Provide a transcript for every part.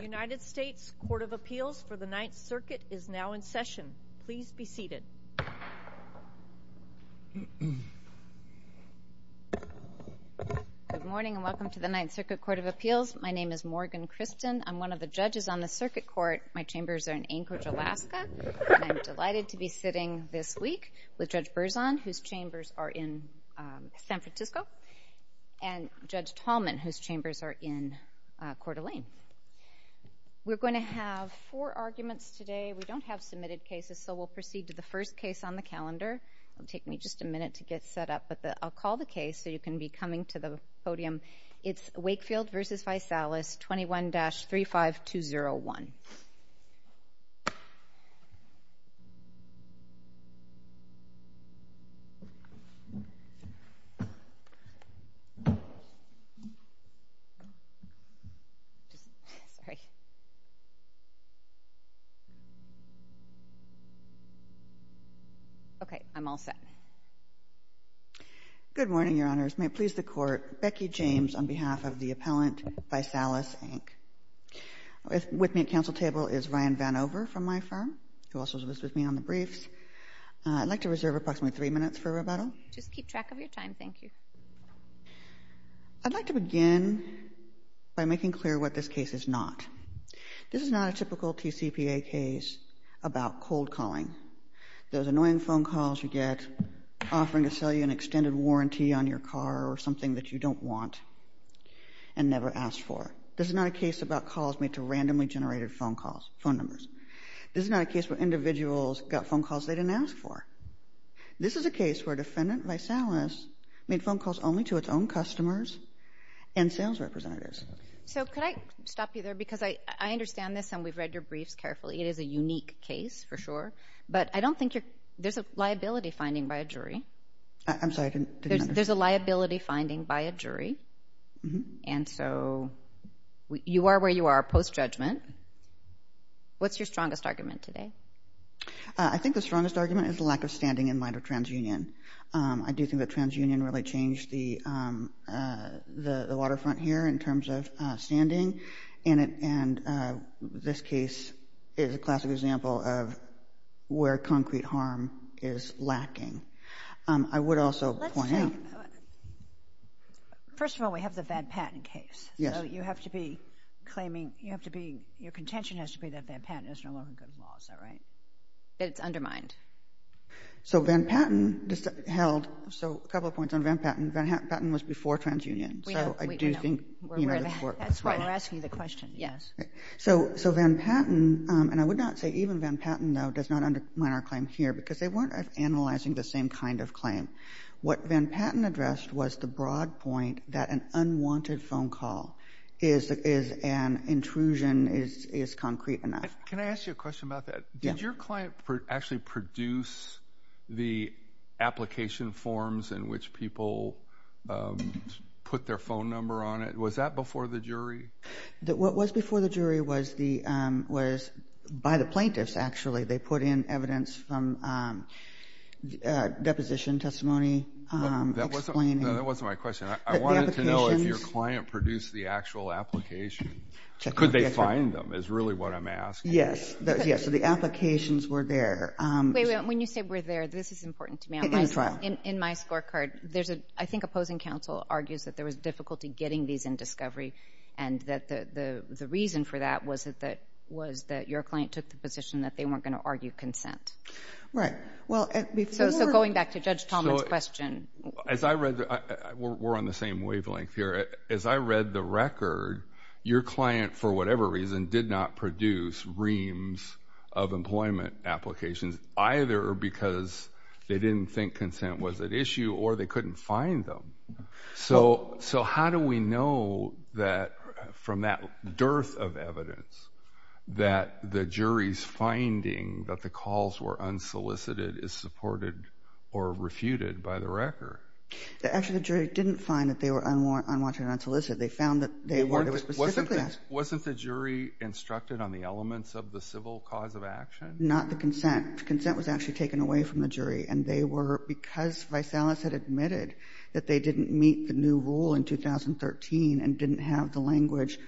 United States Court of Appeals for the Ninth Circuit is now in session. Please be seated. Good morning and welcome to the Ninth Circuit Court of Appeals. My name is Morgan Christen. I'm one of the judges on the Circuit Court. My chambers are in Anchorage, Alaska. I'm delighted to be sitting this week with Judge Berzon, whose chambers are in San Francisco, and Judge Tallman, whose chambers are in Anchorage. We're going to have four arguments today. We don't have submitted cases, so we'll proceed to the first case on the calendar. It'll take me just a minute to get set up, but I'll call the case so you can be coming to the podium. It's Wakefield v. ViSalus, 21-35201. Okay, I'm all set. Good morning, Your Honors. May it please the Court, Becky James on behalf of the appellant, ViSalus, Inc. With me at counsel table is Ryan Vanover from my firm, who also was with me on the briefs. I'd like to reserve approximately three minutes for rebuttal. Just keep track of your time, thank you. I'd like to begin by making clear what this case is not. This is not a typical TCPA case about cold calling. Those annoying phone calls you get offering to you don't want and never asked for. This is not a case about calls made to randomly generated phone calls, phone numbers. This is not a case where individuals got phone calls they didn't ask for. This is a case where a defendant ViSalus made phone calls only to its own customers and sales representatives. So could I stop you there, because I understand this and we've read your briefs carefully. It is a unique case, for sure, but I don't think you're, there's a liability finding by a jury. I'm sorry, I didn't understand. There's a liability finding by a jury, and so you are where you are post-judgment. What's your strongest argument today? I think the strongest argument is the lack of standing in light of transunion. I do think that transunion really changed the the waterfront here in terms of standing, and this case is a classic example of where concrete harm is lacking. I would also point out, first of all, we have the Van Patten case. Yes. You have to be claiming, you have to be, your contention has to be that Van Patten is no longer good law, is that right? It's undermined. So Van Patten just held, so a couple of points on Van Patten. Van Patten was before transunion, so I do think, you know, that's right. We're asking the question, yes. So Van Patten, and I would not say even Van Patten, though, does not undermine our claim here, because they weren't analyzing the same kind of claim. What Van Patten addressed was the broad point that an unwanted phone call is an intrusion, is concrete enough. Can I ask you a question about that? Did your client actually produce the application forms in which people put their phone number on it? Was that before the jury? What was before the jury was by the plaintiffs, actually. They put in evidence from deposition testimony. That wasn't my question. I wanted to know if your client produced the actual application. Could they find them, is really what I'm asking. Yes, yes, the applications were there. When you say were there, this is important to me. In my scorecard, I think opposing counsel argues that there was difficulty getting these in discovery, and that the reason for that was that your client took the position that they weren't going to argue consent. Right. So going back to Judge Talmadge's question. We're on the same wavelength here. As I read the record, your client, for whatever reason, did not produce reams of employment applications, either because they didn't think consent was at issue, or they couldn't find them. So how do we know that from that dearth of evidence, that the jury's finding that the calls were unsolicited is supported or refuted by the record? Actually, the jury didn't find that they were unwarranted or unsolicited. They found that they weren't. Wasn't the jury instructed on the elements of the civil cause of action? Not the consent. Consent was actually taken away from the jury, and they were, because Vaisalas had admitted that they didn't meet the new rule in 2013, and didn't have the language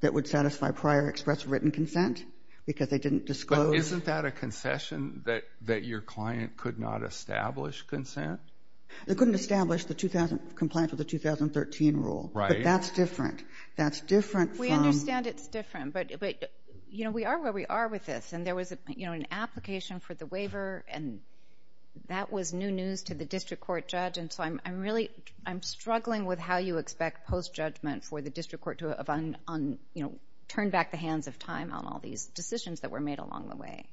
that would satisfy prior express written consent, because they didn't disclose. But isn't that a concession, that your client could not establish consent? They couldn't establish the 2000, compliant with the 2013 rule. Right. But that's different. That's different. We understand it's different, but you know, we are where we are with this, and there was, you know, an application for the waiver, and that was new news to the district court judge, and so I'm really, I'm struggling with how you expect post-judgment for the district court to turn back the hands of time on all these decisions that were made along the way.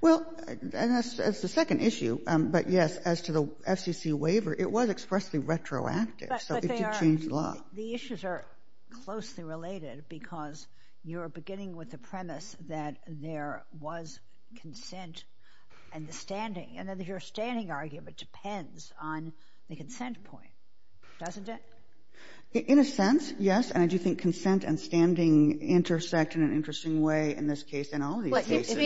Well, and that's the second issue, but yes, as to the FCC waiver, it was expressly retroactive, so it did change a lot. The issues are closely related, because you're beginning with the premise that there was consent and the standing, and then your standing argument depends on the consent point, doesn't it? In a sense, yes, and I do think consent and standing intersect in an interesting way in this case, and all these cases.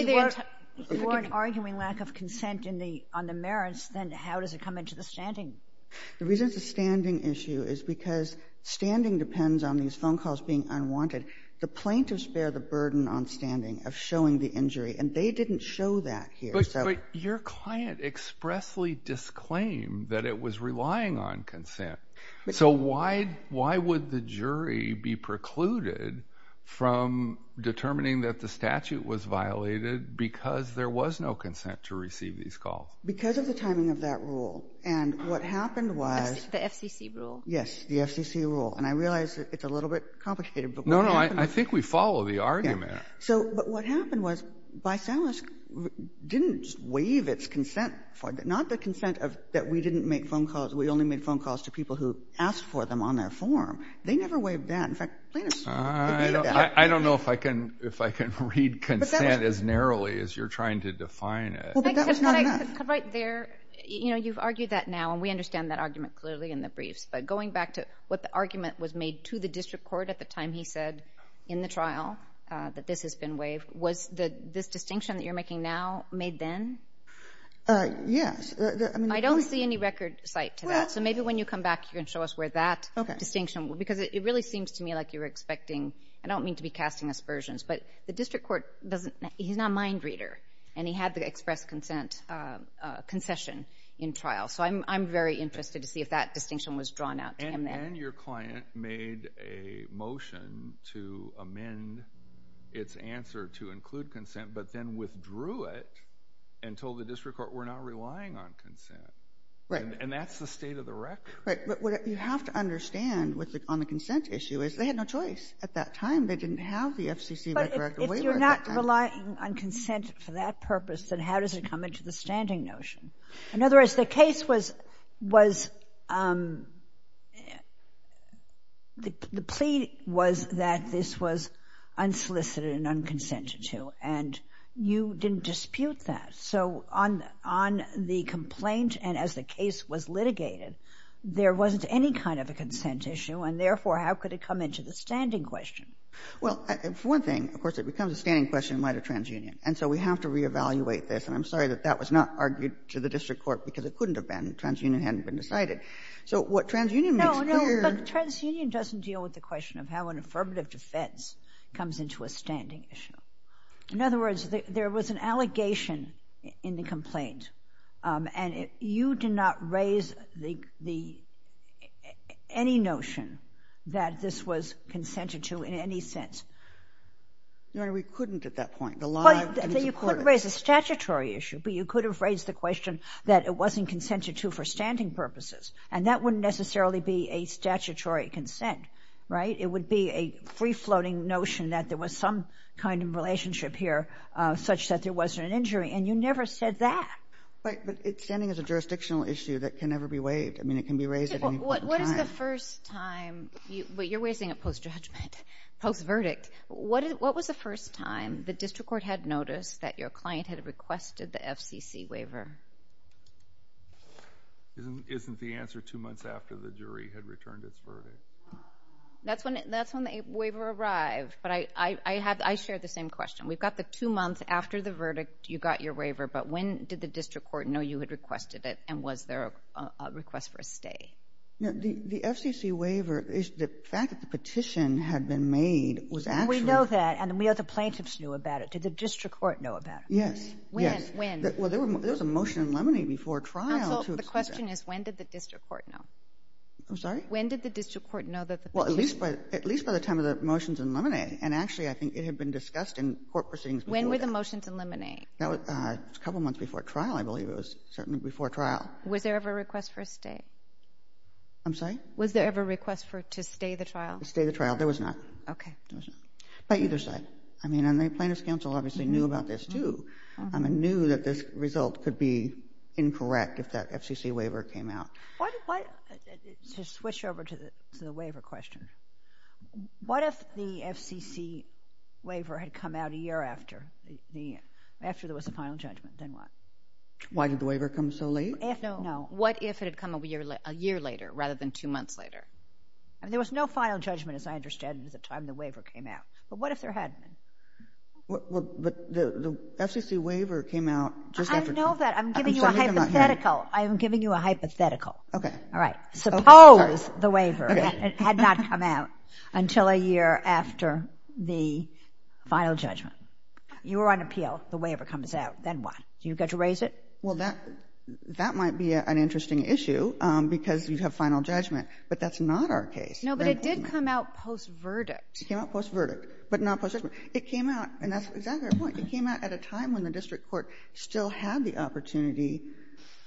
If you weren't arguing lack of consent on the merits, then how does it come into the standing? The reason it's a standing issue is because standing depends on these phone calls being unwanted. The plaintiffs bear the burden on standing of showing the injury, and they didn't show that here. But your client expressly disclaimed that it was relying on consent, so why would the jury be precluded from determining that the statute was violated because there was no consent to receive these calls? Because of the timing of that rule, and what happened was... The FCC rule. Yes, the FCC rule, and I realize it's a little bit complicated, but... No, no, I think we follow the argument. So, but what happened was, Bysalis didn't waive its consent for, not the consent of, that we didn't make phone calls, we only made phone calls to people who asked for them on their form. They never waived that. In fact, plaintiffs repeated that. I don't know if I can, if I can read consent as narrowly as you're trying to define it. Right there, you know, you've argued that now, and we understand that argument clearly in the briefs, but going back to what the argument was made to the district court at the time he said in the trial that this has been waived, was this distinction that you're making now made then? Yes. I don't see any record cite to that, so maybe when you come back you can show us where that distinction, because it really seems to me like you're expecting, I don't mean to be casting aspersions, but the district court doesn't, he's not a mind reader, and I'm very interested to see if that distinction was drawn out to him then. And then your client made a motion to amend its answer to include consent, but then withdrew it and told the district court we're not relying on consent. Right. And that's the state of the record. Right, but what you have to understand with the, on the consent issue, is they had no choice at that time. They didn't have the FCC record waiver at that time. But if you're not relying on consent for that purpose, then how does it come into the standing notion? In other words, the case was, was, the plea was that this was unsolicited and unconsented to, and you didn't dispute that. So on, on the complaint and as the case was litigated, there wasn't any kind of a consent issue and therefore how could it come into the standing question? Well, one thing, of course, it becomes a standing question in light of TransUnion, and so we have to that was not argued to the district court because it couldn't have been. TransUnion hadn't been decided. So what TransUnion makes clear... No, no, but TransUnion doesn't deal with the question of how an affirmative defense comes into a standing issue. In other words, there was an allegation in the complaint, and you did not raise the, the, any notion that this was consented to in any sense. No, we couldn't at that point. You couldn't raise a statutory issue, but you could have raised the question that it wasn't consented to for standing purposes, and that wouldn't necessarily be a statutory consent, right? It would be a free-floating notion that there was some kind of relationship here such that there wasn't an injury, and you never said that. But, but it's standing as a jurisdictional issue that can never be waived. I mean, it can be raised at any point in time. What is the first time, but you're raising it post-judgment, post-verdict, what was the first time the district court had noticed that your client had requested the FCC waiver? Isn't the answer two months after the jury had returned its verdict? That's when, that's when the waiver arrived, but I, I have, I shared the same question. We've got the two months after the verdict, you got your waiver, but when did the district court know you had requested it, and was there a request for a stay? No, the FCC waiver, the fact that the waiver had been made was actually... We know that, and we know the plaintiffs knew about it. Did the district court know about it? Yes, yes. When, when? Well, there was a motion in limine before trial... Counsel, the question is, when did the district court know? I'm sorry? When did the district court know that the... Well, at least by, at least by the time of the motions in limine, and actually, I think it had been discussed in court proceedings... When were the motions in limine? That was a couple months before trial, I believe. It was certainly before trial. Was there ever a request for a stay? I'm sorry? Was there ever a request for, to stay the trial? To stay the trial. There was not. Okay. But either side. I mean, and the Plaintiffs' Counsel obviously knew about this, too, and knew that this result could be incorrect if that FCC waiver came out. What, what, to switch over to the, to the waiver question, what if the FCC waiver had come out a year after the, after there was a final judgment, then what? Why did the waiver come so late? No, what if it had come a year, a year later, rather than two months later? And there was no final judgment, as I understand, at the time the waiver came out. But what if there hadn't? Well, but the FCC waiver came out just after... I know that. I'm giving you a hypothetical. I'm giving you a hypothetical. Okay. All right. Suppose the waiver had not come out until a year after the final judgment. You were on appeal. The waiver comes out. Then what? Do you get to raise it? Well, that, that might be an interesting issue, because you'd have final judgment. But that's not our case. No, but it did come out post-verdict. It came out post-verdict, but not post-judgment. It came out, and that's exactly our point. It came out at a time when the district court still had the opportunity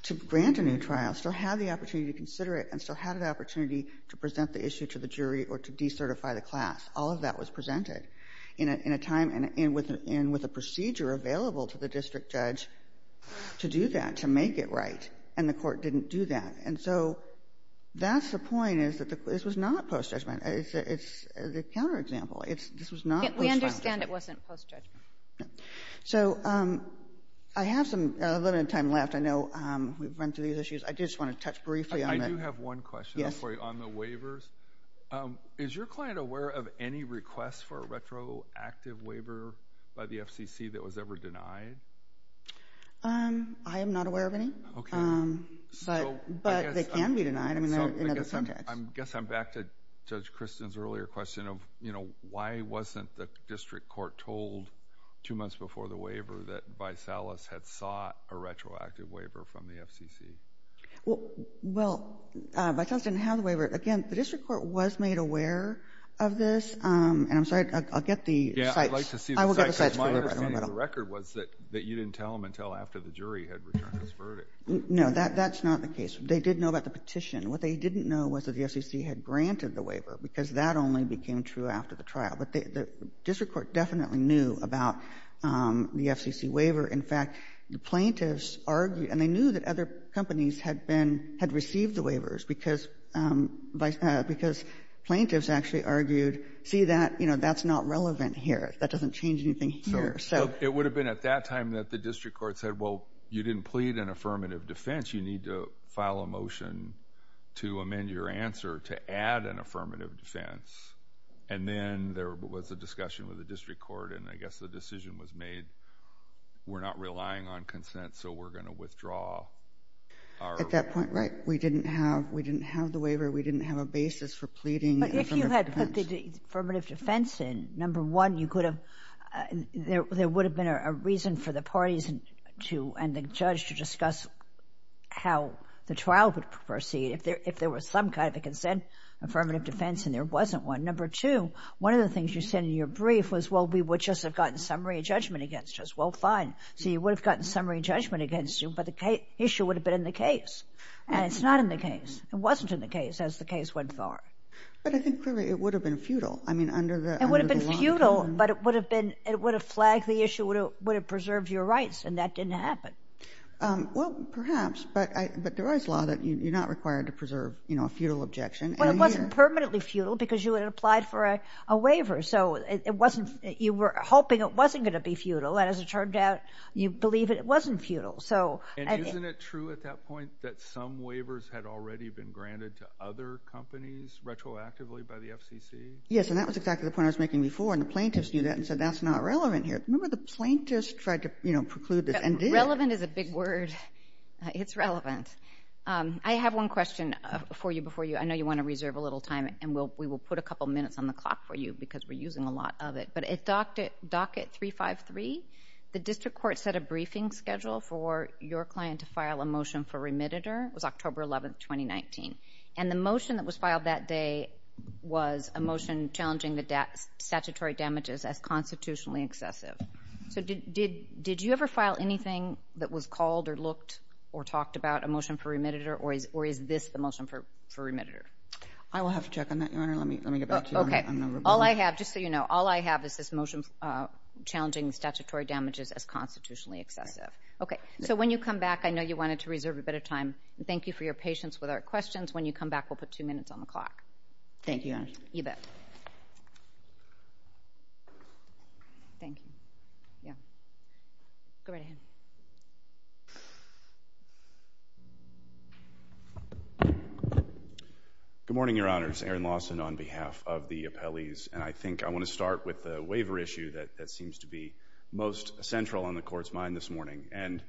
to grant a new trial, still had the opportunity to consider it, and still had an opportunity to present the issue to the jury or to decertify the class. All of that was presented in a, in a time, and with, and with a procedure available to the district judge to do that, to make it right, and the court didn't do that. And so, that's the point, is that the, this was not post-judgment. It's, it's a counter-example. It's, this was not post-judgment. We understand it wasn't post-judgment. So, I have some, a little bit of time left. I know we've run through these issues. I did just want to touch briefly on the... I do have one question for you. Yes. On the waivers. Is your client aware of any requests for a retroactive waiver by the FCC that was ever denied? Um, I am not aware of any. Okay. But, but they can be denied. I mean, in other contexts. So, I guess I'm, I guess I'm back to Judge Kristen's earlier question of, you know, why wasn't the district court told two months before the waiver that Vaisalas had sought a retroactive waiver from the FCC? Well, well, Vaisalas didn't have the waiver. Again, the district court was made aware of this, and I'm sorry, I'll get the cites. Yeah, I'd like to see the cites. I will get the cites for you, but I don't know about all of them. My understanding of the record was that you didn't tell them until after the jury had returned this verdict. No, that's not the case. They did know about the petition. What they didn't know was that the FCC had granted the waiver, because that only became true after the trial. But the district court definitely knew about the FCC waiver. In fact, the plaintiffs argued, and they knew that other companies had been, had received the waivers because, because plaintiffs actually argued, see that, you know, that's not relevant here. That doesn't change anything here, so. It would have been at that time that the district court said, well, you didn't plead an affirmative defense. You need to file a motion to amend your answer to add an affirmative defense. And then there was a discussion with the district court, and I guess the decision was made, we're not relying on consent, so we're going to withdraw our. At that point, right, we didn't have, we didn't have the waiver. We didn't have a basis for pleading an affirmative defense. But if you had put the affirmative defense in, number one, you could have, there would have been a reason for the parties to, and the judge to discuss how the trial would proceed if there was some kind of a consent, affirmative defense, and there wasn't one. Number two, one of the things you said in your brief was, well, we would just have gotten summary judgment against us. Well, fine. See, you would have gotten summary judgment against you, but the issue would have been in the case. And it's not in the case. It wasn't in the case as the case went forward. But I think, clearly, it would have been futile. I mean, under the law. It would have been futile, but it would have been, it would have flagged the issue, it would have preserved your rights, and that didn't happen. Well, perhaps, but I, but there was law that you're not required to preserve, you know, a futile objection. Well, it wasn't permanently futile because you had applied for a waiver, so it wasn't, you were hoping it wasn't going to be futile, and as it turned out, you believe it wasn't futile, so. And isn't it true at that point that some waivers had already been granted to other companies retroactively by the FCC? Yes, and that was exactly the point I was making before, and the plaintiffs knew that and said, that's not relevant here. Remember, the plaintiffs tried to, you know, preclude this and did. Relevant is a big word. It's relevant. I have one question for you before you, I know you want to reserve a little time, and we'll, we will put a couple minutes on the clock for you because we're using a lot of it, but it docked at 3-5-3. The district court set a briefing schedule for your client to file a motion for remitter. It was October 11th, 2019, and the motion that was filed that day was a motion challenging the statutory damages as constitutionally excessive. So did, did you ever file anything that was called or looked or talked about a motion for remitter or is this the motion for remitter? I will have to check on that, Your Honor. Let me challenging statutory damages as constitutionally excessive. Okay. So when you come back, I know you wanted to reserve a bit of time. Thank you for your patience with our questions. When you come back, we'll put two minutes on the clock. Thank you, Your Honor. You bet. Good morning, Your Honors. Aaron Lawson on behalf of the appellees, and I think I want to start with the waiver issue that, that seems to be most central on the court's mind this morning. And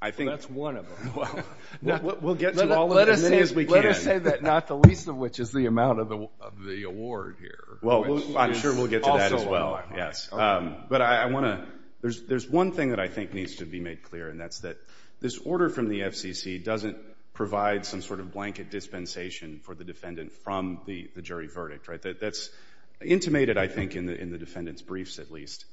I think that's one of them. We'll get to all of them as many as we can. Let us say that not the least of which is the amount of the award here. Well, I'm sure we'll get to that as well. Yes. But I want to, there's, there's one thing that I think needs to be made clear and that's that this order from the FCC doesn't provide some sort of blanket dispensation for the defendant from the jury verdict, right? That's intimated, I think, in the, in the defendant's briefs at least.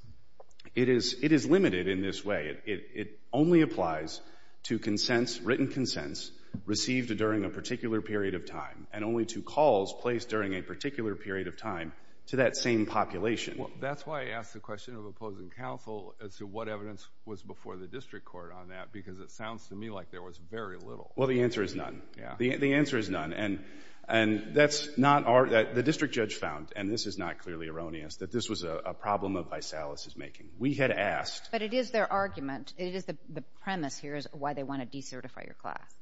It is, it is limited in this way. It only applies to consents, written consents received during a particular period of time and only to calls placed during a particular period of time to that same population. Well, that's why I asked the question of opposing counsel as to what evidence was before the district court on that because it sounds to me like there was very little. Well, the answer is none. The answer is none. And, and that's not our, the district judge found, and this is not clearly erroneous, that this was a, a problem of Vaisalas' making. We had asked. But it is their argument, it is the, the premise here is why they want to decertify your class.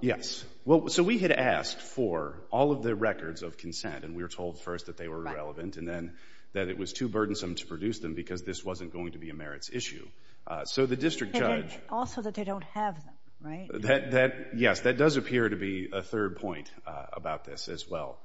Yes. Well, so we had asked for all of the records of consent and we were told first that they were irrelevant and then that it was too burdensome to produce them because this wasn't going to be a merits issue. So the district judge. Also that they don't have them, right? That, that, yes, that does appear to be a third point about this as well.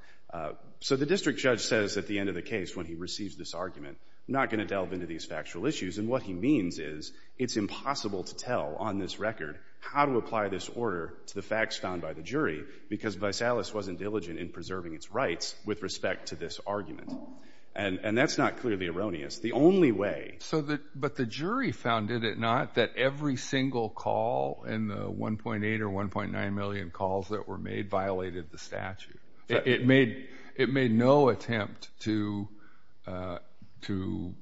So the district judge says at the end of the case when he receives this argument, not going to delve into these factual issues. And what he means is it's impossible to tell on this record how to apply this order to the facts found by the jury because Vaisalas wasn't diligent in preserving its rights with respect to this argument. And, and that's not clearly erroneous. The only way. So that, but the jury found, did it not, that every single call in the 1.8 or 1.9 million calls that were made violated the statute. It, it made, it made no attempt to, uh, to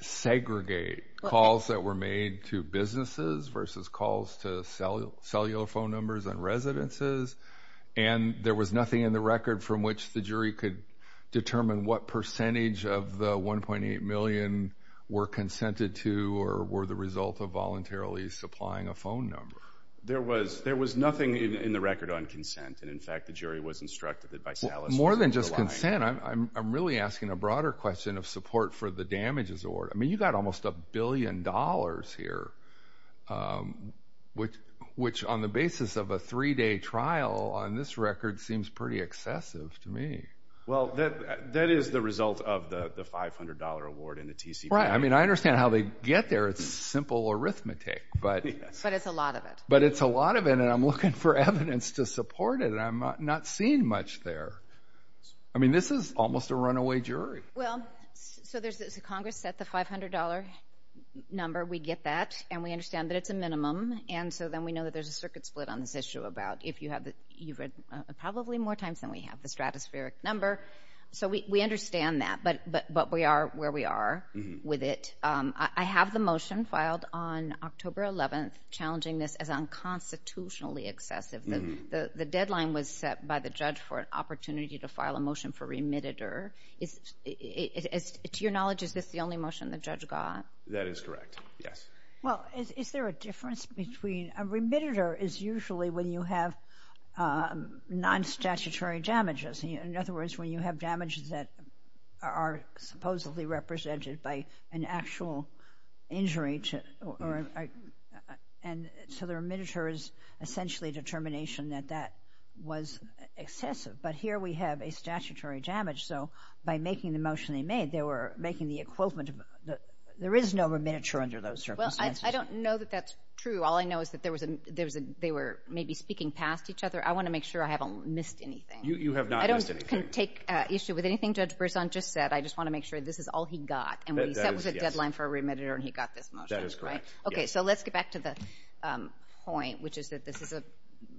segregate calls that were made to businesses versus calls to cellular, cellular phone numbers and residences. And there was nothing in the record from which the jury could determine what percentage of the 1.8 million were consented to or were the result of voluntarily supplying a phone number. There was, there was nothing in the record on consent. And in fact, the jury was instructed that Vaisalas more than just consent. I'm really asking a broader question of support for the damages award. I mean, you got almost a billion dollars here, um, which, which on the basis of a three day trial on this record seems pretty excessive to me. Well, that, that is the result of the $500 award in the TC. Right. I mean, I understand how they get there. It's simple arithmetic, but it's a lot of it, but it's a lot of it. And I'm looking for evidence to support it. And I'm not seeing much there. I mean, this is almost a runaway jury. Well, so there's, it's a Congress set the $500 number. We get that and we understand that it's a minimum. And so then we know that there's a circuit split on this issue about if you have the, you've read probably more times than we have the stratospheric number. So we, we understand that, but, but, but we are where we are with it. Um, I have the motion filed on October 11th, challenging this as unconstitutionally excessive. The deadline was set by the judge for an opportunity to file a motion for remitted or is it, as to your knowledge, is this the only motion the judge got? That is correct. Yes. Well, is there a difference between a remitted or is usually when you have a non-statutory damages? In other words, when you have damages that are supposedly represented by an actual injury to, or, and so the remitters essentially determination that that was excessive, but here we have a statutory damage. So by making the motion they made, they were making the equivalent of the, there is no remittiture under those circumstances. Well, I don't know that that's true. All I know is that there was a, there was a, they were maybe speaking past each other. I want to make sure I haven't missed anything. You, you have not missed anything. I don't take issue with anything Judge Berzon just said. I just want to make sure this is all he got and that was a deadline for a remitted or he got this motion. That is correct. Okay. So let's get back to the point, which is that this is a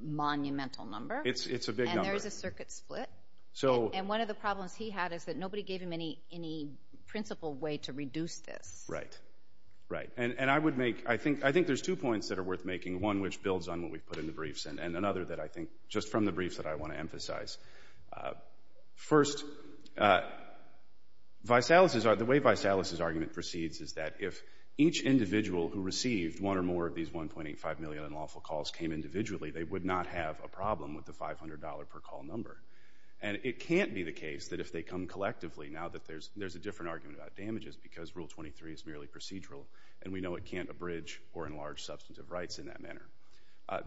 monumental number. It's, it's a big number. And there's a circuit split. So, and one of the problems he had is that nobody gave him any, any principled way to reduce this. Right, right. And, and I would make, I think, I think there's two points that are worth making. One, which builds on what we've put in the briefs and another that I think just from the briefs that I want to emphasize. First, Vysalis's, the way Vysalis's argument proceeds is that if each individual who received one or more of these 1.85 million unlawful calls came individually, they would not have a problem with the $500 per call number. And it can't be the case that if they come is merely procedural and we know it can't abridge or enlarge substantive rights in that manner.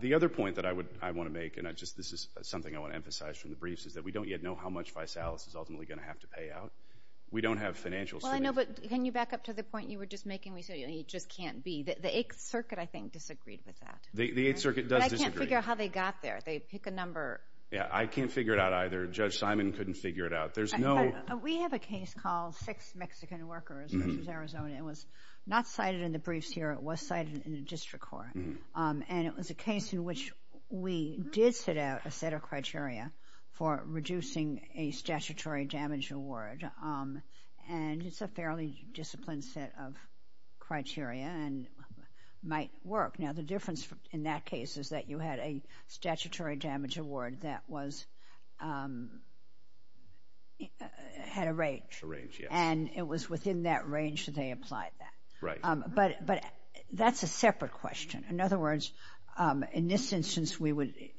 The other point that I would, I want to make, and I just, this is something I want to emphasize from the briefs, is that we don't yet know how much Vysalis is ultimately going to have to pay out. We don't have financials. Well, I know, but can you back up to the point you were just making? We said it just can't be. The Eighth Circuit, I think, disagreed with that. The Eighth Circuit does disagree. But I can't figure out how they got there. They pick a number. Yeah, I can't figure it out either. Judge Simon couldn't figure it out. There's no. We have a case called Six Mexican Workers v. Arizona. It was not cited in the briefs here. It was cited in the district court. And it was a case in which we did set out a set of criteria for reducing a statutory damage award. And it's a fairly disciplined set of criteria and might work. Now, the difference in that case is that you had a statutory damage award that had a range. And it was within that range that they applied that. But that's a separate question. In other words, in this instance,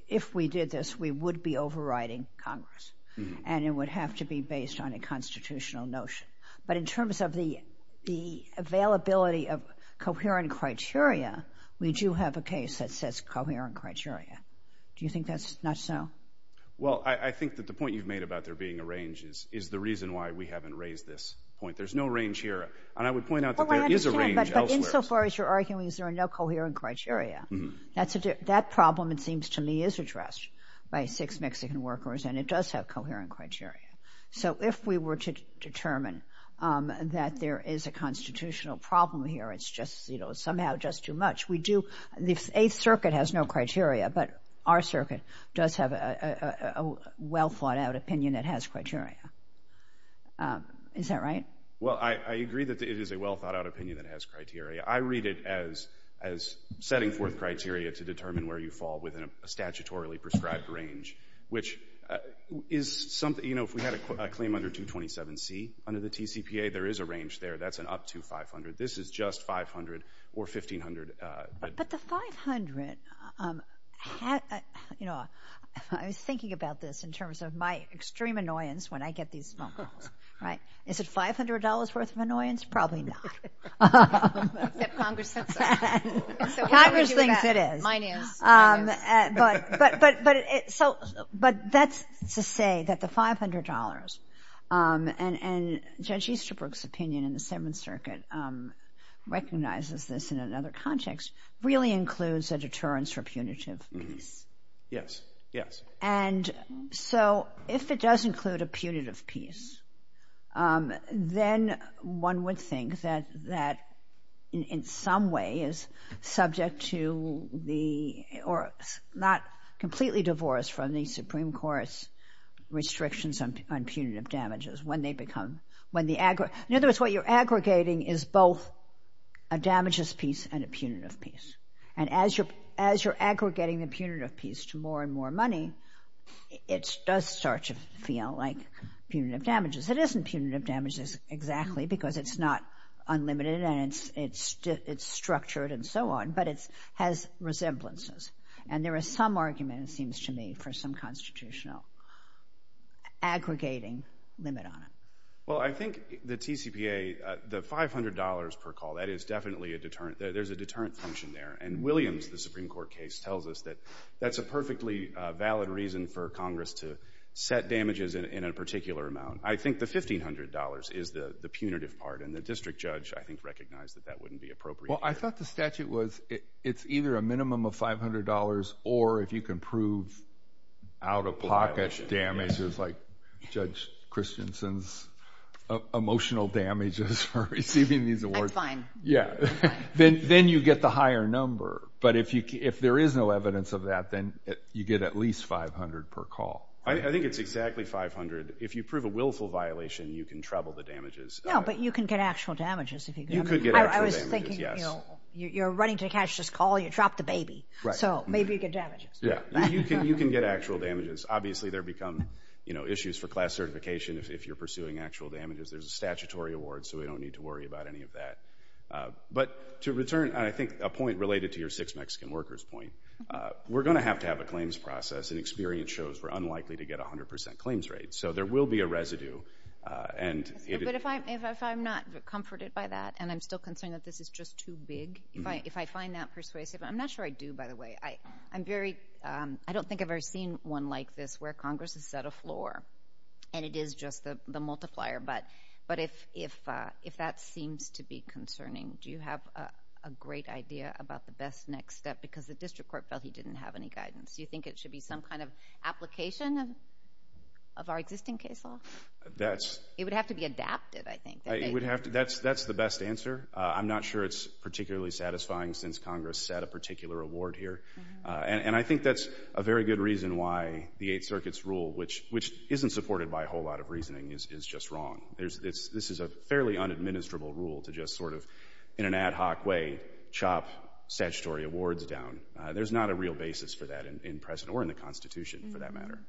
if we did this, we would be overriding Congress. And it would have to be based on a constitutional notion. But in terms of the availability of coherent criteria, we do have a case that says coherent criteria. Do you think that's not so? Well, I think that the point you've made about there being a range is the reason why we haven't raised this point. There's no range here. And I would point out that there is a range elsewhere. But insofar as you're arguing there are no coherent criteria, that problem, it seems to me, is addressed by Six Mexican Workers. And it does have coherent criteria. So if we were to determine that there is a constitutional problem here, it's just somehow just too much. The Eighth Circuit has no criteria. But our circuit does have a well-thought-out opinion that has criteria. Is that right? Well, I agree that it is a well- thought-out opinion that has criteria. I read it as setting forth criteria to determine where you fall within a statutorily prescribed range. If we had a claim under 227C under the TCPA, there is a range there that's an up to 500. This is just 500 or 1,500. But the 500, you know, I was thinking about this in terms of my extreme annoyance when I get these phone calls, right? Is it $500 worth of annoyance? Probably not. Congress thinks it is. Mine is. But that's to say that the $500, and Judge Easterbrook's opinion in the Seventh Circuit recognizes this in another context, really includes a deterrence for punitive peace. Yes, yes. And so if it does include a punitive peace, then one would think that in some way is or is not completely divorced from the Supreme Court's restrictions on punitive damages. In other words, what you're aggregating is both a damages peace and a punitive peace. And as you're aggregating the punitive peace to more and more money, it does start to feel like punitive damages. It isn't punitive damages exactly because it's not And there is some argument, it seems to me, for some constitutional aggregating limit on it. Well, I think the TCPA, the $500 per call, that is definitely a deterrent. There's a deterrent function there. And Williams, the Supreme Court case, tells us that that's a perfectly valid reason for Congress to set damages in a particular amount. I think the $1,500 is the punitive part. And the district judge, I think, recognized that that wouldn't be appropriate. Well, I thought the statute was it's either a minimum of $500 or, if you can prove out-of-pocket damages like Judge Christensen's emotional damages for receiving these awards, then you get the higher number. But if there is no evidence of that, then you get at least $500 per call. I think it's exactly $500. If you prove a willful violation, you can treble the damages. No, but you can get actual damages. You could get actual damages, yes. I was thinking, you're running to catch this call, you drop the baby. So maybe you get damages. Yeah, you can get actual damages. Obviously, there become issues for class certification if you're pursuing actual damages. There's a statutory award, so we don't need to worry about any of that. But to return, I think, a point related to your six Mexican workers point, we're going to have to have a claims process. And experience shows we're unlikely to get 100% claims rates. So there will be a residue. But if I'm not comforted by that, and I'm still concerned that this is just too big, if I find that persuasive, I'm not sure I do, by the way. I don't think I've ever seen one like this where Congress has set a floor, and it is just the multiplier. But if that seems to be concerning, do you have a great idea about the best next step? Because the district court felt he didn't have any guidance. Do you think it should be some kind of application of our existing case law? It would have to be adapted, I think. That's the best answer. I'm not sure it's particularly satisfying since Congress set a particular award here. And I think that's a very good reason why the Eighth Circuit's rule, which isn't supported by a whole lot of reasoning, is just wrong. This is a fairly unadministerable rule to just sort of, in an ad hoc way, chop statutory awards down. There's not a basis for that in present, or in the Constitution, for that matter.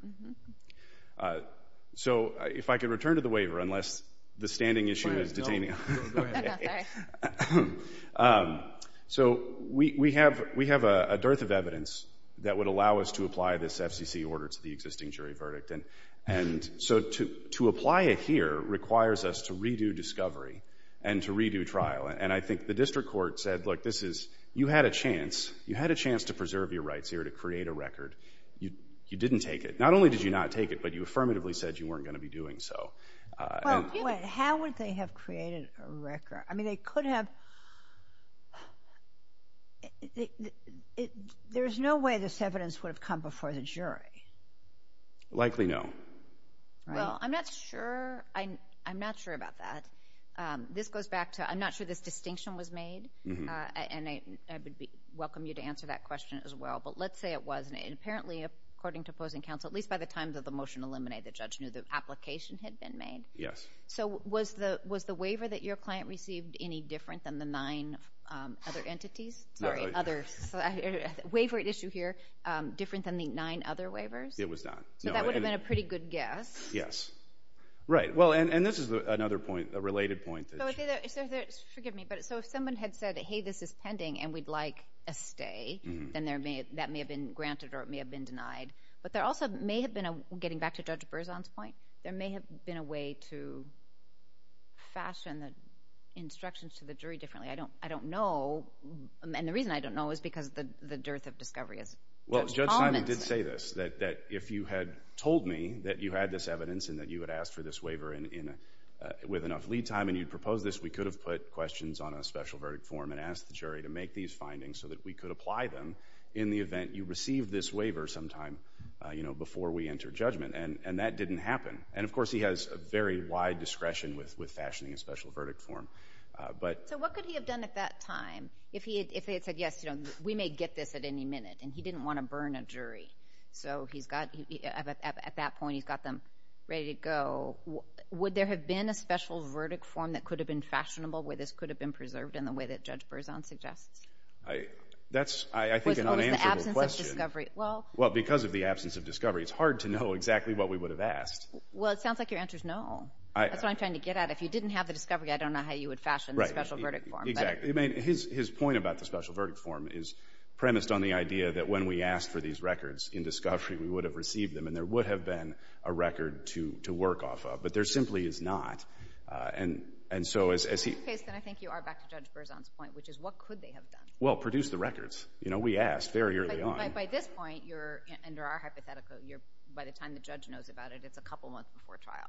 So, if I could return to the waiver, unless the standing issue is detaining me. Go ahead. Sorry. So, we have a dearth of evidence that would allow us to apply this FCC order to the existing jury verdict. And so, to apply it here requires us to redo discovery and to redo trial. And I think the district court said, look, this is, you had a chance to preserve your rights here to create a record. You didn't take it. Not only did you not take it, but you affirmatively said you weren't going to be doing so. How would they have created a record? I mean, they could have... There's no way this evidence would have come before the jury. Likely no. Well, I'm not sure about that. This goes back to, I'm not sure this distinction was made. And I would welcome you to answer that question as well. But let's say it was. And apparently, according to opposing counsel, at least by the time that the motion eliminated, the judge knew the application had been made. Yes. So, was the waiver that your client received any different than the nine other entities? Sorry, other. Waiver issue here, different than the nine other waivers? It was not. So, that would have been a pretty good guess. Yes. Right. Well, and this is another point, a related point. Forgive me, but so if someone had said, hey, this is pending and we'd like a stay, then that may have been granted or it may have been denied. But there also may have been, getting back to Judge Berzon's point, there may have been a way to fashion the instructions to the jury differently. I don't know. And the reason I don't know is because the dearth of discovery is that if you had told me that you had this evidence and that you had asked for this waiver with enough lead time and you'd proposed this, we could have put questions on a special verdict form and asked the jury to make these findings so that we could apply them in the event you received this waiver sometime before we enter judgment. And that didn't happen. And of course, he has a very wide discretion with fashioning a special verdict form. So, what could he have done at that time? If he had said, yes, we may get this at any minute, and he didn't want to burn a jury. So, at that point, he's got them ready to go. Would there have been a special verdict form that could have been fashionable where this could have been preserved in the way that Judge Berzon suggests? That's, I think, an unanswerable question. Well, because of the absence of discovery, it's hard to know exactly what we would have asked. Well, it sounds like your answer is no. That's what I'm trying to get at. If you didn't have the discovery, I don't know how you would fashion the special verdict form. Right. Exactly. I mean, his point about the special verdict form is premised on the idea that when we asked for these records in discovery, we would have received them, and there would have been a record to work off of. But there simply is not. And so, as he— In this case, then, I think you are back to Judge Berzon's point, which is what could they have done? Well, produce the records. You know, we asked very early on. But by this point, you're—under our hypothetical, by the time the judge knows about it, it's a couple months before trial.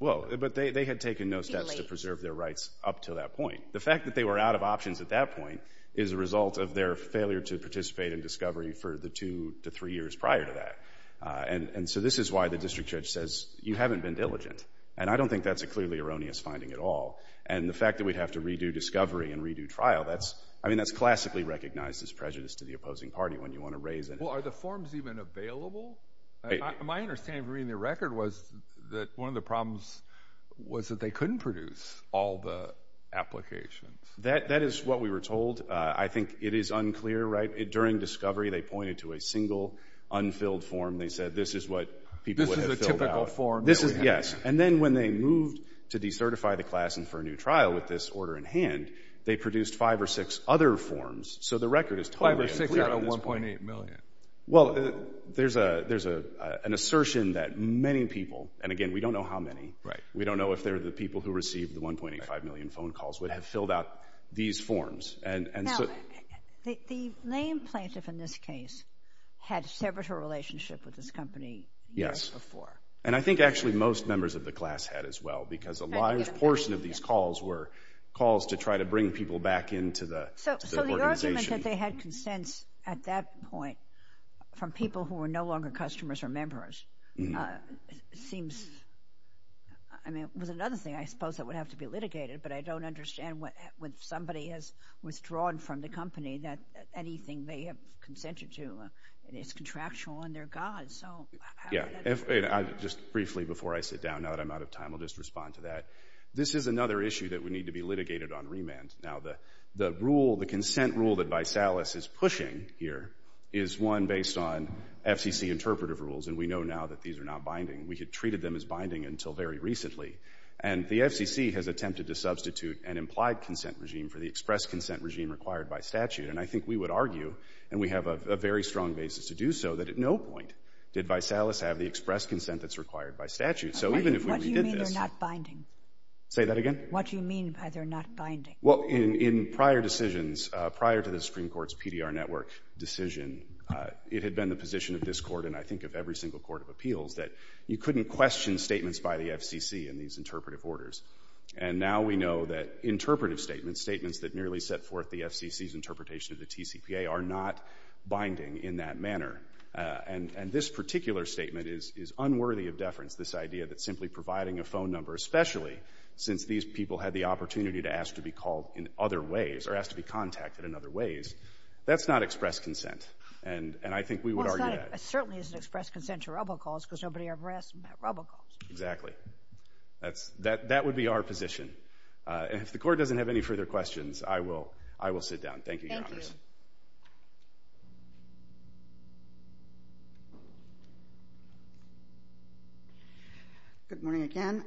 Well, but they had taken no steps to preserve their rights up to that point. The fact that they were out of options at that point is a result of their failure to participate in discovery for the two to three years prior to that. And so, this is why the district judge says, you haven't been diligent. And I don't think that's a clearly erroneous finding at all. And the fact that we'd have to redo discovery and redo trial, that's—I mean, that's classically recognized as prejudice to the opposing party when you want to raise it. Well, are the forms even available? My understanding from reading the record was that one of the problems was that they couldn't produce all the applications. That is what we were told. I think it is unclear, right? During discovery, they pointed to a single unfilled form. They said, this is what people would have filled out. This is a typical form. Yes. And then when they moved to decertify the class and for a new trial with this order in hand, they produced five or six other forms. So, the record is totally unclear at this point. Five or six out of 1.8 million. Well, there's an assertion that many people—and again, we don't know how many. Right. We don't know if they're the people who received the 1.85 million phone calls, would have filled out these forms. Now, the main plaintiff in this case had severed her relationship with this company before. Yes. And I think actually most members of the class had as well because a large portion of these calls were calls to try to bring people back into the organization. So, the argument that they had consents at that point from people who were no longer customers or members seems—I mean, it was another thing, I suppose, that would have to be litigated, but I don't understand when somebody has withdrawn from the company that anything they have consented to is contractual on their gods. Yeah. Just briefly before I sit down, now that I'm out of time, I'll just respond to that. This is another issue that would need to be litigated on remand. Now, the rule, the consent rule that Vaisalas is pushing here is one based on FCC interpretive rules, and we know now that these are not binding. We had treated them as binding until very recently, and the FCC has attempted to substitute an implied consent regime for the express consent regime required by statute, and I think we would argue, and we have a very strong basis to do so, that at no point did Vaisalas have the express consent that's required by statute, so even if we redid this— What do you mean they're not binding? Say that again? What do you mean by they're not binding? Well, in prior decisions, prior to the Supreme Court's PDR network decision, it had been the position of this Court, and I think of every single court of appeals, that you couldn't question statements by the FCC in these interpretive orders, and now we know that interpretive statements, statements that merely set forth the FCC's interpretation of the TCPA, are not binding in that manner, and this particular statement is unworthy of deference, this idea that simply providing a phone number, especially since these people had the opportunity to ask to be called in other ways, or asked to be contacted in other ways, that's not express consent, and I think we would argue that. Well, it certainly isn't express consent to robocalls, because nobody ever asked about robocalls. Exactly. That would be our position, and if the Court doesn't have any further questions, I will sit down. Thank you, Your Honor. Thank you. Good morning again.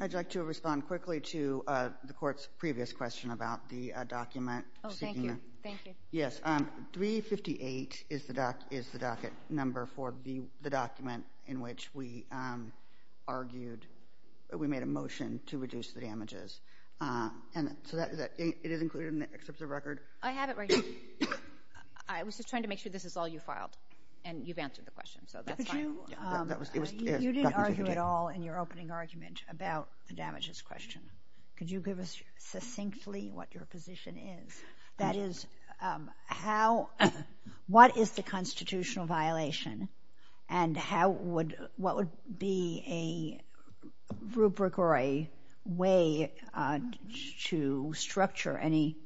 I'd like to respond quickly to the Court's previous question about the document. Oh, thank you, thank you. Yes, 358 is the docket number for the document in which we argued, we made a motion to reduce the damages, and so it is included in the excerpt of the record. I have it right here. I was just trying to make sure this is all you filed, and you've answered the question, so that's fine. Could you, you didn't argue at all in your opening argument about the damages question. Could you give us succinctly what your position is? That is, what is the constitutional violation, and how would, what would be a rubric or a way to structure any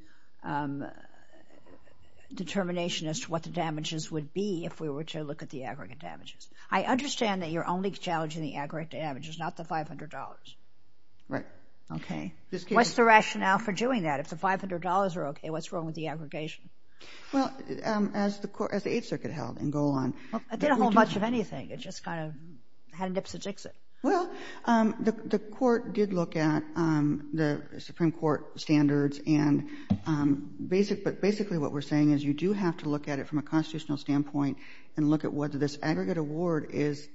determination as to what the damages would be if we were to look at the aggregate damages? I understand that you're only challenging the aggregate damages, not the $500. Right. Okay. What's the rationale for doing that? If the $500 are okay, what's wrong with the aggregation? Well, as the Court, as the Eighth Circuit held in Golan— It didn't hold much of anything. It just kind of had nips and jigs it. Well, the Court did look at the Supreme Court standards, and basically what we're saying is you do have to look at it from a constitutional standpoint and look at whether this aggregate award is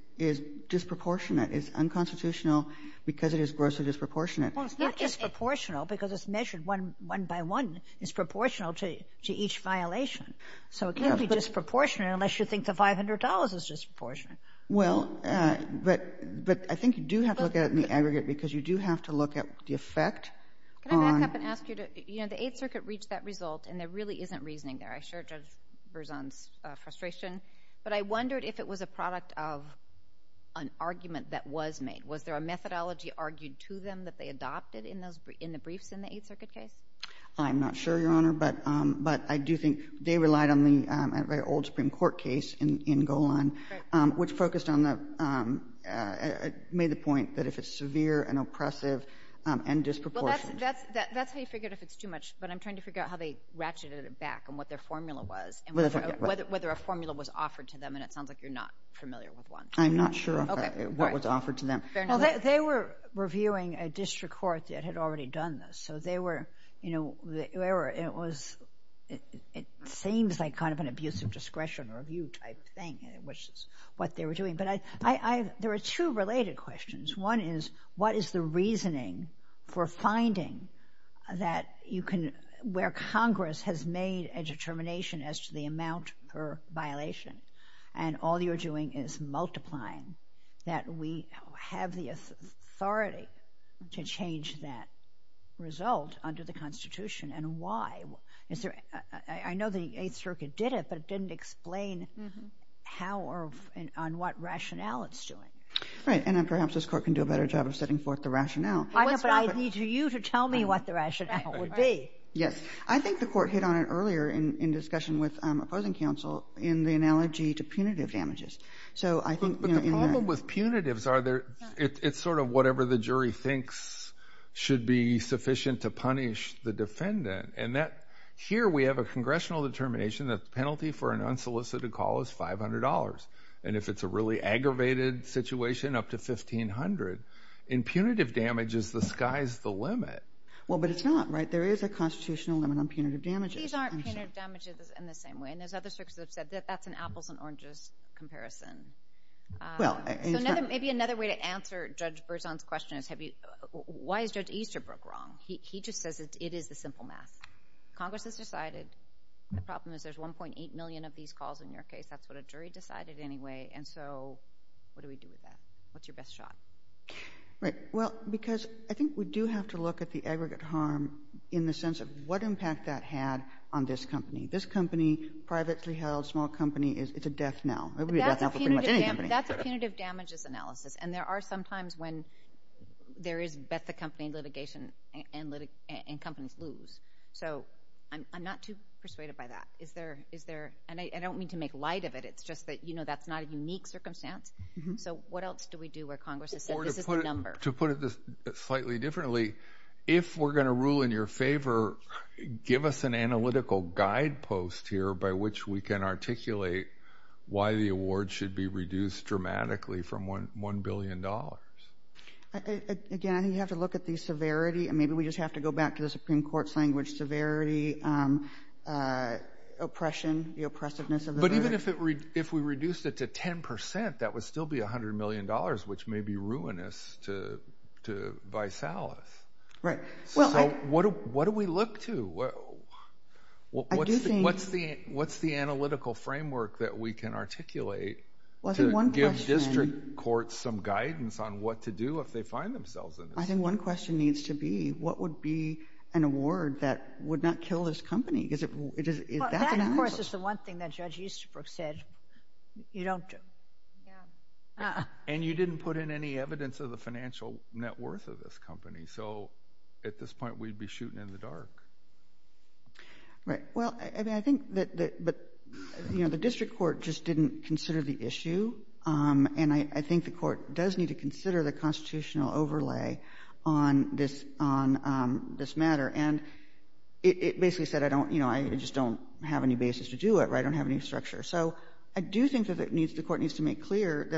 disproportionate, is unconstitutional because it is grossly disproportionate. Well, it's not disproportional because it's measured one by one, is proportional to each violation. So it can't be disproportionate unless you think the $500 is disproportionate. Well, but I think you do have to look at the aggregate because you do have to look at the effect on— Can I back up and ask you to, you know, the Eighth Circuit reached that result, and there really isn't reasoning there. I share Judge Berzon's frustration, but I wondered if it was a product of an argument that was made. Was there a methodology argued to them that they adopted in the briefs in the Eighth Circuit case? I'm not sure, Your Honor, but I do think they relied on the old Supreme Court case in Golan, which focused on the—made the point that if it's severe and oppressive and disproportionate— Well, that's how you figured if it's too much, but I'm trying to figure out how they ratcheted it back and what their formula was, and whether a formula was offered to them, and it sounds like you're not familiar with one. I'm not sure what was offered to them. Fair enough. They were reviewing a district court that had already done this, so they were, you know, it seems like kind of an abusive discretion review type thing, which is what they were doing, but there are two related questions. One is, what is the reasoning for finding that you can—where Congress has made a determination as to the amount per violation, and all you're doing is multiplying, that we have the authority to change that result under the Constitution, and why? I know the Eighth Circuit did it, but it didn't explain how or on what rationale it's doing. Right, and then perhaps this Court can do a better job of setting forth the rationale. I know, but I need you to tell me what the rationale would be. Yes. I think the Court hit on it earlier in discussion with opposing counsel in the analogy to punitive damages, so I think— But the problem with punitives are they're—it's sort of whatever the jury thinks should be sufficient to punish the defendant, and here we have a congressional determination that the penalty for an unsolicited call is $500, and if it's a really aggravated situation, up to $1,500. In punitive damages, the sky's the limit. Well, but it's not, right? There is a constitutional limit on punitive damages. These aren't punitive damages in the same way, and there's other circuits that have said that that's an apples and oranges comparison. Well, it's not— Maybe another way to answer Judge Berzon's question is why is Judge Easterbrook wrong? He just says it is the simple math. Congress has decided. The problem is there's 1.8 million of these calls in your case. That's what a jury decided anyway, and so what do we do with that? What's your best shot? Right. Well, because I think we do have to look at the aggregate harm in the sense of what impact that had on this company. This company, privately held, small company, it's a death knell. It would be a death knell for pretty much any company. That's a punitive damages analysis, and there are some times when there is bet the company litigation and companies lose, so I'm not too persuaded by that. Is there—and I don't mean to make light of it. It's just that that's not a unique circumstance, so what else do we do where Congress has said this is the number? To put it slightly differently, if we're going to rule in your favor, give us an analytical guidepost here by which we can articulate why the award should be reduced dramatically from $1 billion. Again, I think you have to look at the severity, and maybe we just have to go back to the Supreme Court's language, severity, oppression, the oppressiveness of the verdict. But even if we reduced it to 10%, that would still be $100 million, which may be ruinous to Vice Alice. So what do we look to? What's the analytical framework that we can articulate to give district courts some guidance on what to do if they find themselves in this? I think one question needs to be, what would be an award that would not kill this company? That, of course, is the one thing that Judge Easterbrook said, you don't— And you didn't put in any evidence of the financial net worth of this company, so at this point, we'd be shooting in the dark. Right. Well, I think that the district court just didn't consider the issue, and I think the court does need to consider the constitutional overlay on this matter. And it basically said, I just don't have any basis to do it, or I don't have any structure. So I do think that the court needs to make clear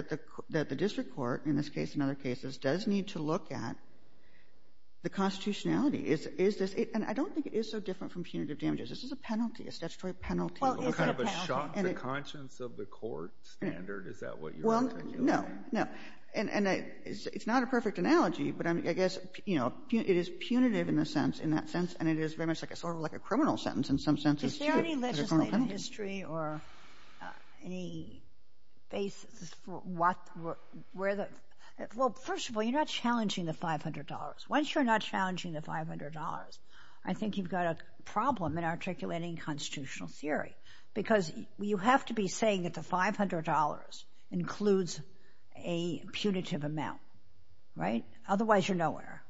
that the district court, in this case and other cases, does need to look at the constitutionality. And I don't think it is so different from punitive damages. This is a penalty, a statutory penalty. Well, is it a penalty? Well, kind of a shock to the conscience of the court standard, is that what you're— Well, no, no. And it's not a perfect analogy, but I guess it is punitive in that sense, and it is very much sort of like a criminal sentence in some senses, too. Is there any legislative history or— Any basis for where the— Well, first of all, you're not challenging the $500. Once you're not challenging the $500, I think you've got a problem in articulating constitutional theory, because you have to be saying that the $500 includes a punitive amount, right? Otherwise, you're nowhere.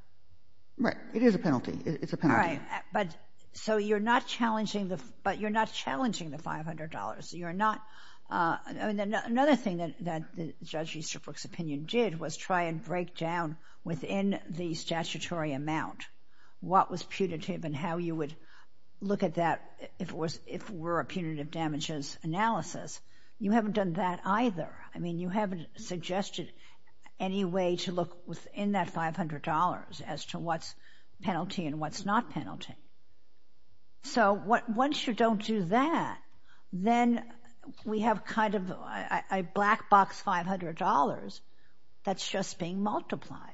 So you're not challenging the $500. Another thing that Judge Easterbrook's opinion did was try and break down within the statutory amount what was punitive and how you would look at that if it were a punitive damages analysis. You haven't done that either. I mean, you haven't suggested any way to look within that $500 as to what's penalty and what's not penalty. So once you don't do that, then we have kind of a black box $500 that's just being multiplied.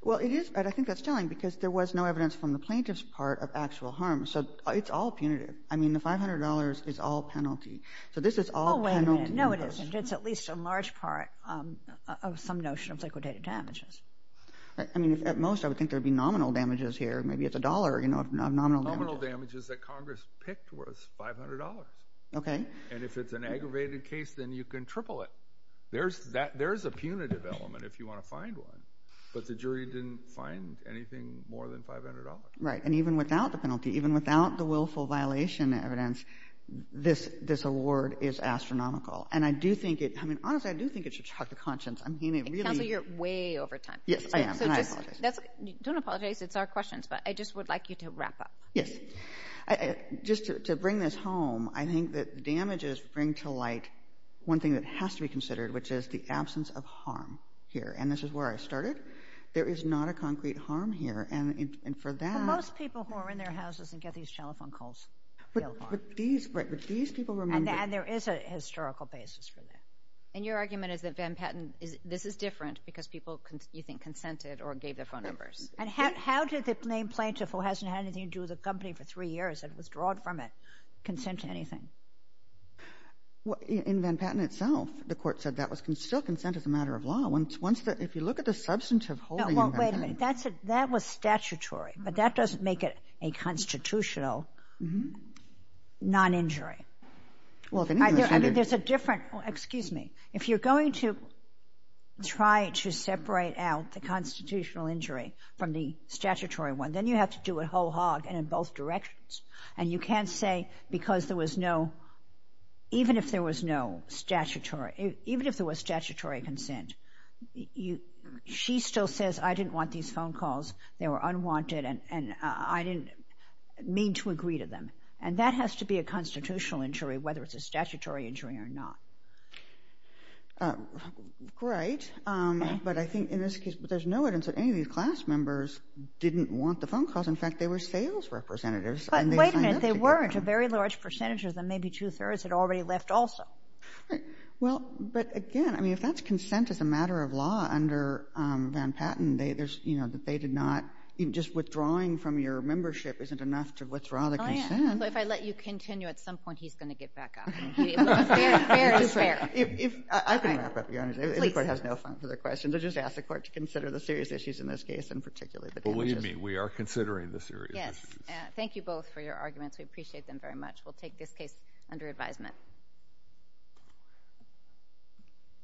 Well, it is, and I think that's telling, because there was no evidence from the plaintiff's part of actual harm. So it's all punitive. I mean, the $500 is all penalty. So this is all penalty. Oh, wait a minute. No, it isn't. It's at least a large part of some notion of liquidated damages. I mean, at most, I would think there would be nominal damages here. Maybe it's a dollar, a nominal damage. Nominal damages that Congress picked was $500. Okay. And if it's an aggravated case, then you can triple it. There's a punitive element if you want to find one, but the jury didn't find anything more than $500. Right. And even without the penalty, even without the willful violation evidence, this award is astronomical. And I do think it, I mean, honestly, I do think it should shock the conscience. I mean, it really— Counsel, you're way over time. Yes, I am, and I apologize. Don't apologize. It's our questions, but I just would like you to wrap up. Yes. Just to bring this home, I think that damages bring to light one thing that has to be considered, which is the absence of harm here. And this is where I started. There is not a concrete harm here, and for that— But most people who are in their houses and get these telephone calls feel harm. But these people remember— And there is a historical basis for that. And your argument is that Van Patten, this is different because people, you think, consented or gave their phone numbers. And how did the main plaintiff, who hasn't had anything to do with the company for three years and withdrawed from it, consent to anything? In Van Patten itself, the court said that was still consent as a matter of law. Once the—if you look at the substantive holding— Well, wait a minute. That was statutory, but that doesn't make it a constitutional non-injury. Well, if anything— I mean, there's a different—excuse me. If you're going to try to separate out the constitutional injury from the statutory one, then you have to do a whole hog in both directions. And you can't say because there was no—even if there was no statutory—even if there was statutory consent, she still says, I didn't want these phone calls. They were unwanted, and I didn't mean to agree to them. And that has to be a constitutional injury, whether it's a statutory injury or not. Right. But I think in this case—but there's no evidence that any of these class members didn't want the phone calls. In fact, they were sales representatives. But wait a minute. They weren't. A very large percentage of them, maybe two-thirds, had already left also. Well, but again, I mean, if that's consent as a matter of law under Van Patten, there's—you know, that they did not—just withdrawing from your membership isn't enough to withdraw the consent. If I let you continue, at some point he's going to get back up. Fair is fair. I can wrap up, Your Honor. Please. The court has no further questions. I'll just ask the court to consider the serious issues in this case, and particularly the damages. Believe me, we are considering the serious issues. Yes. Thank you both for your arguments. We appreciate them very much. We'll take this case under advisement.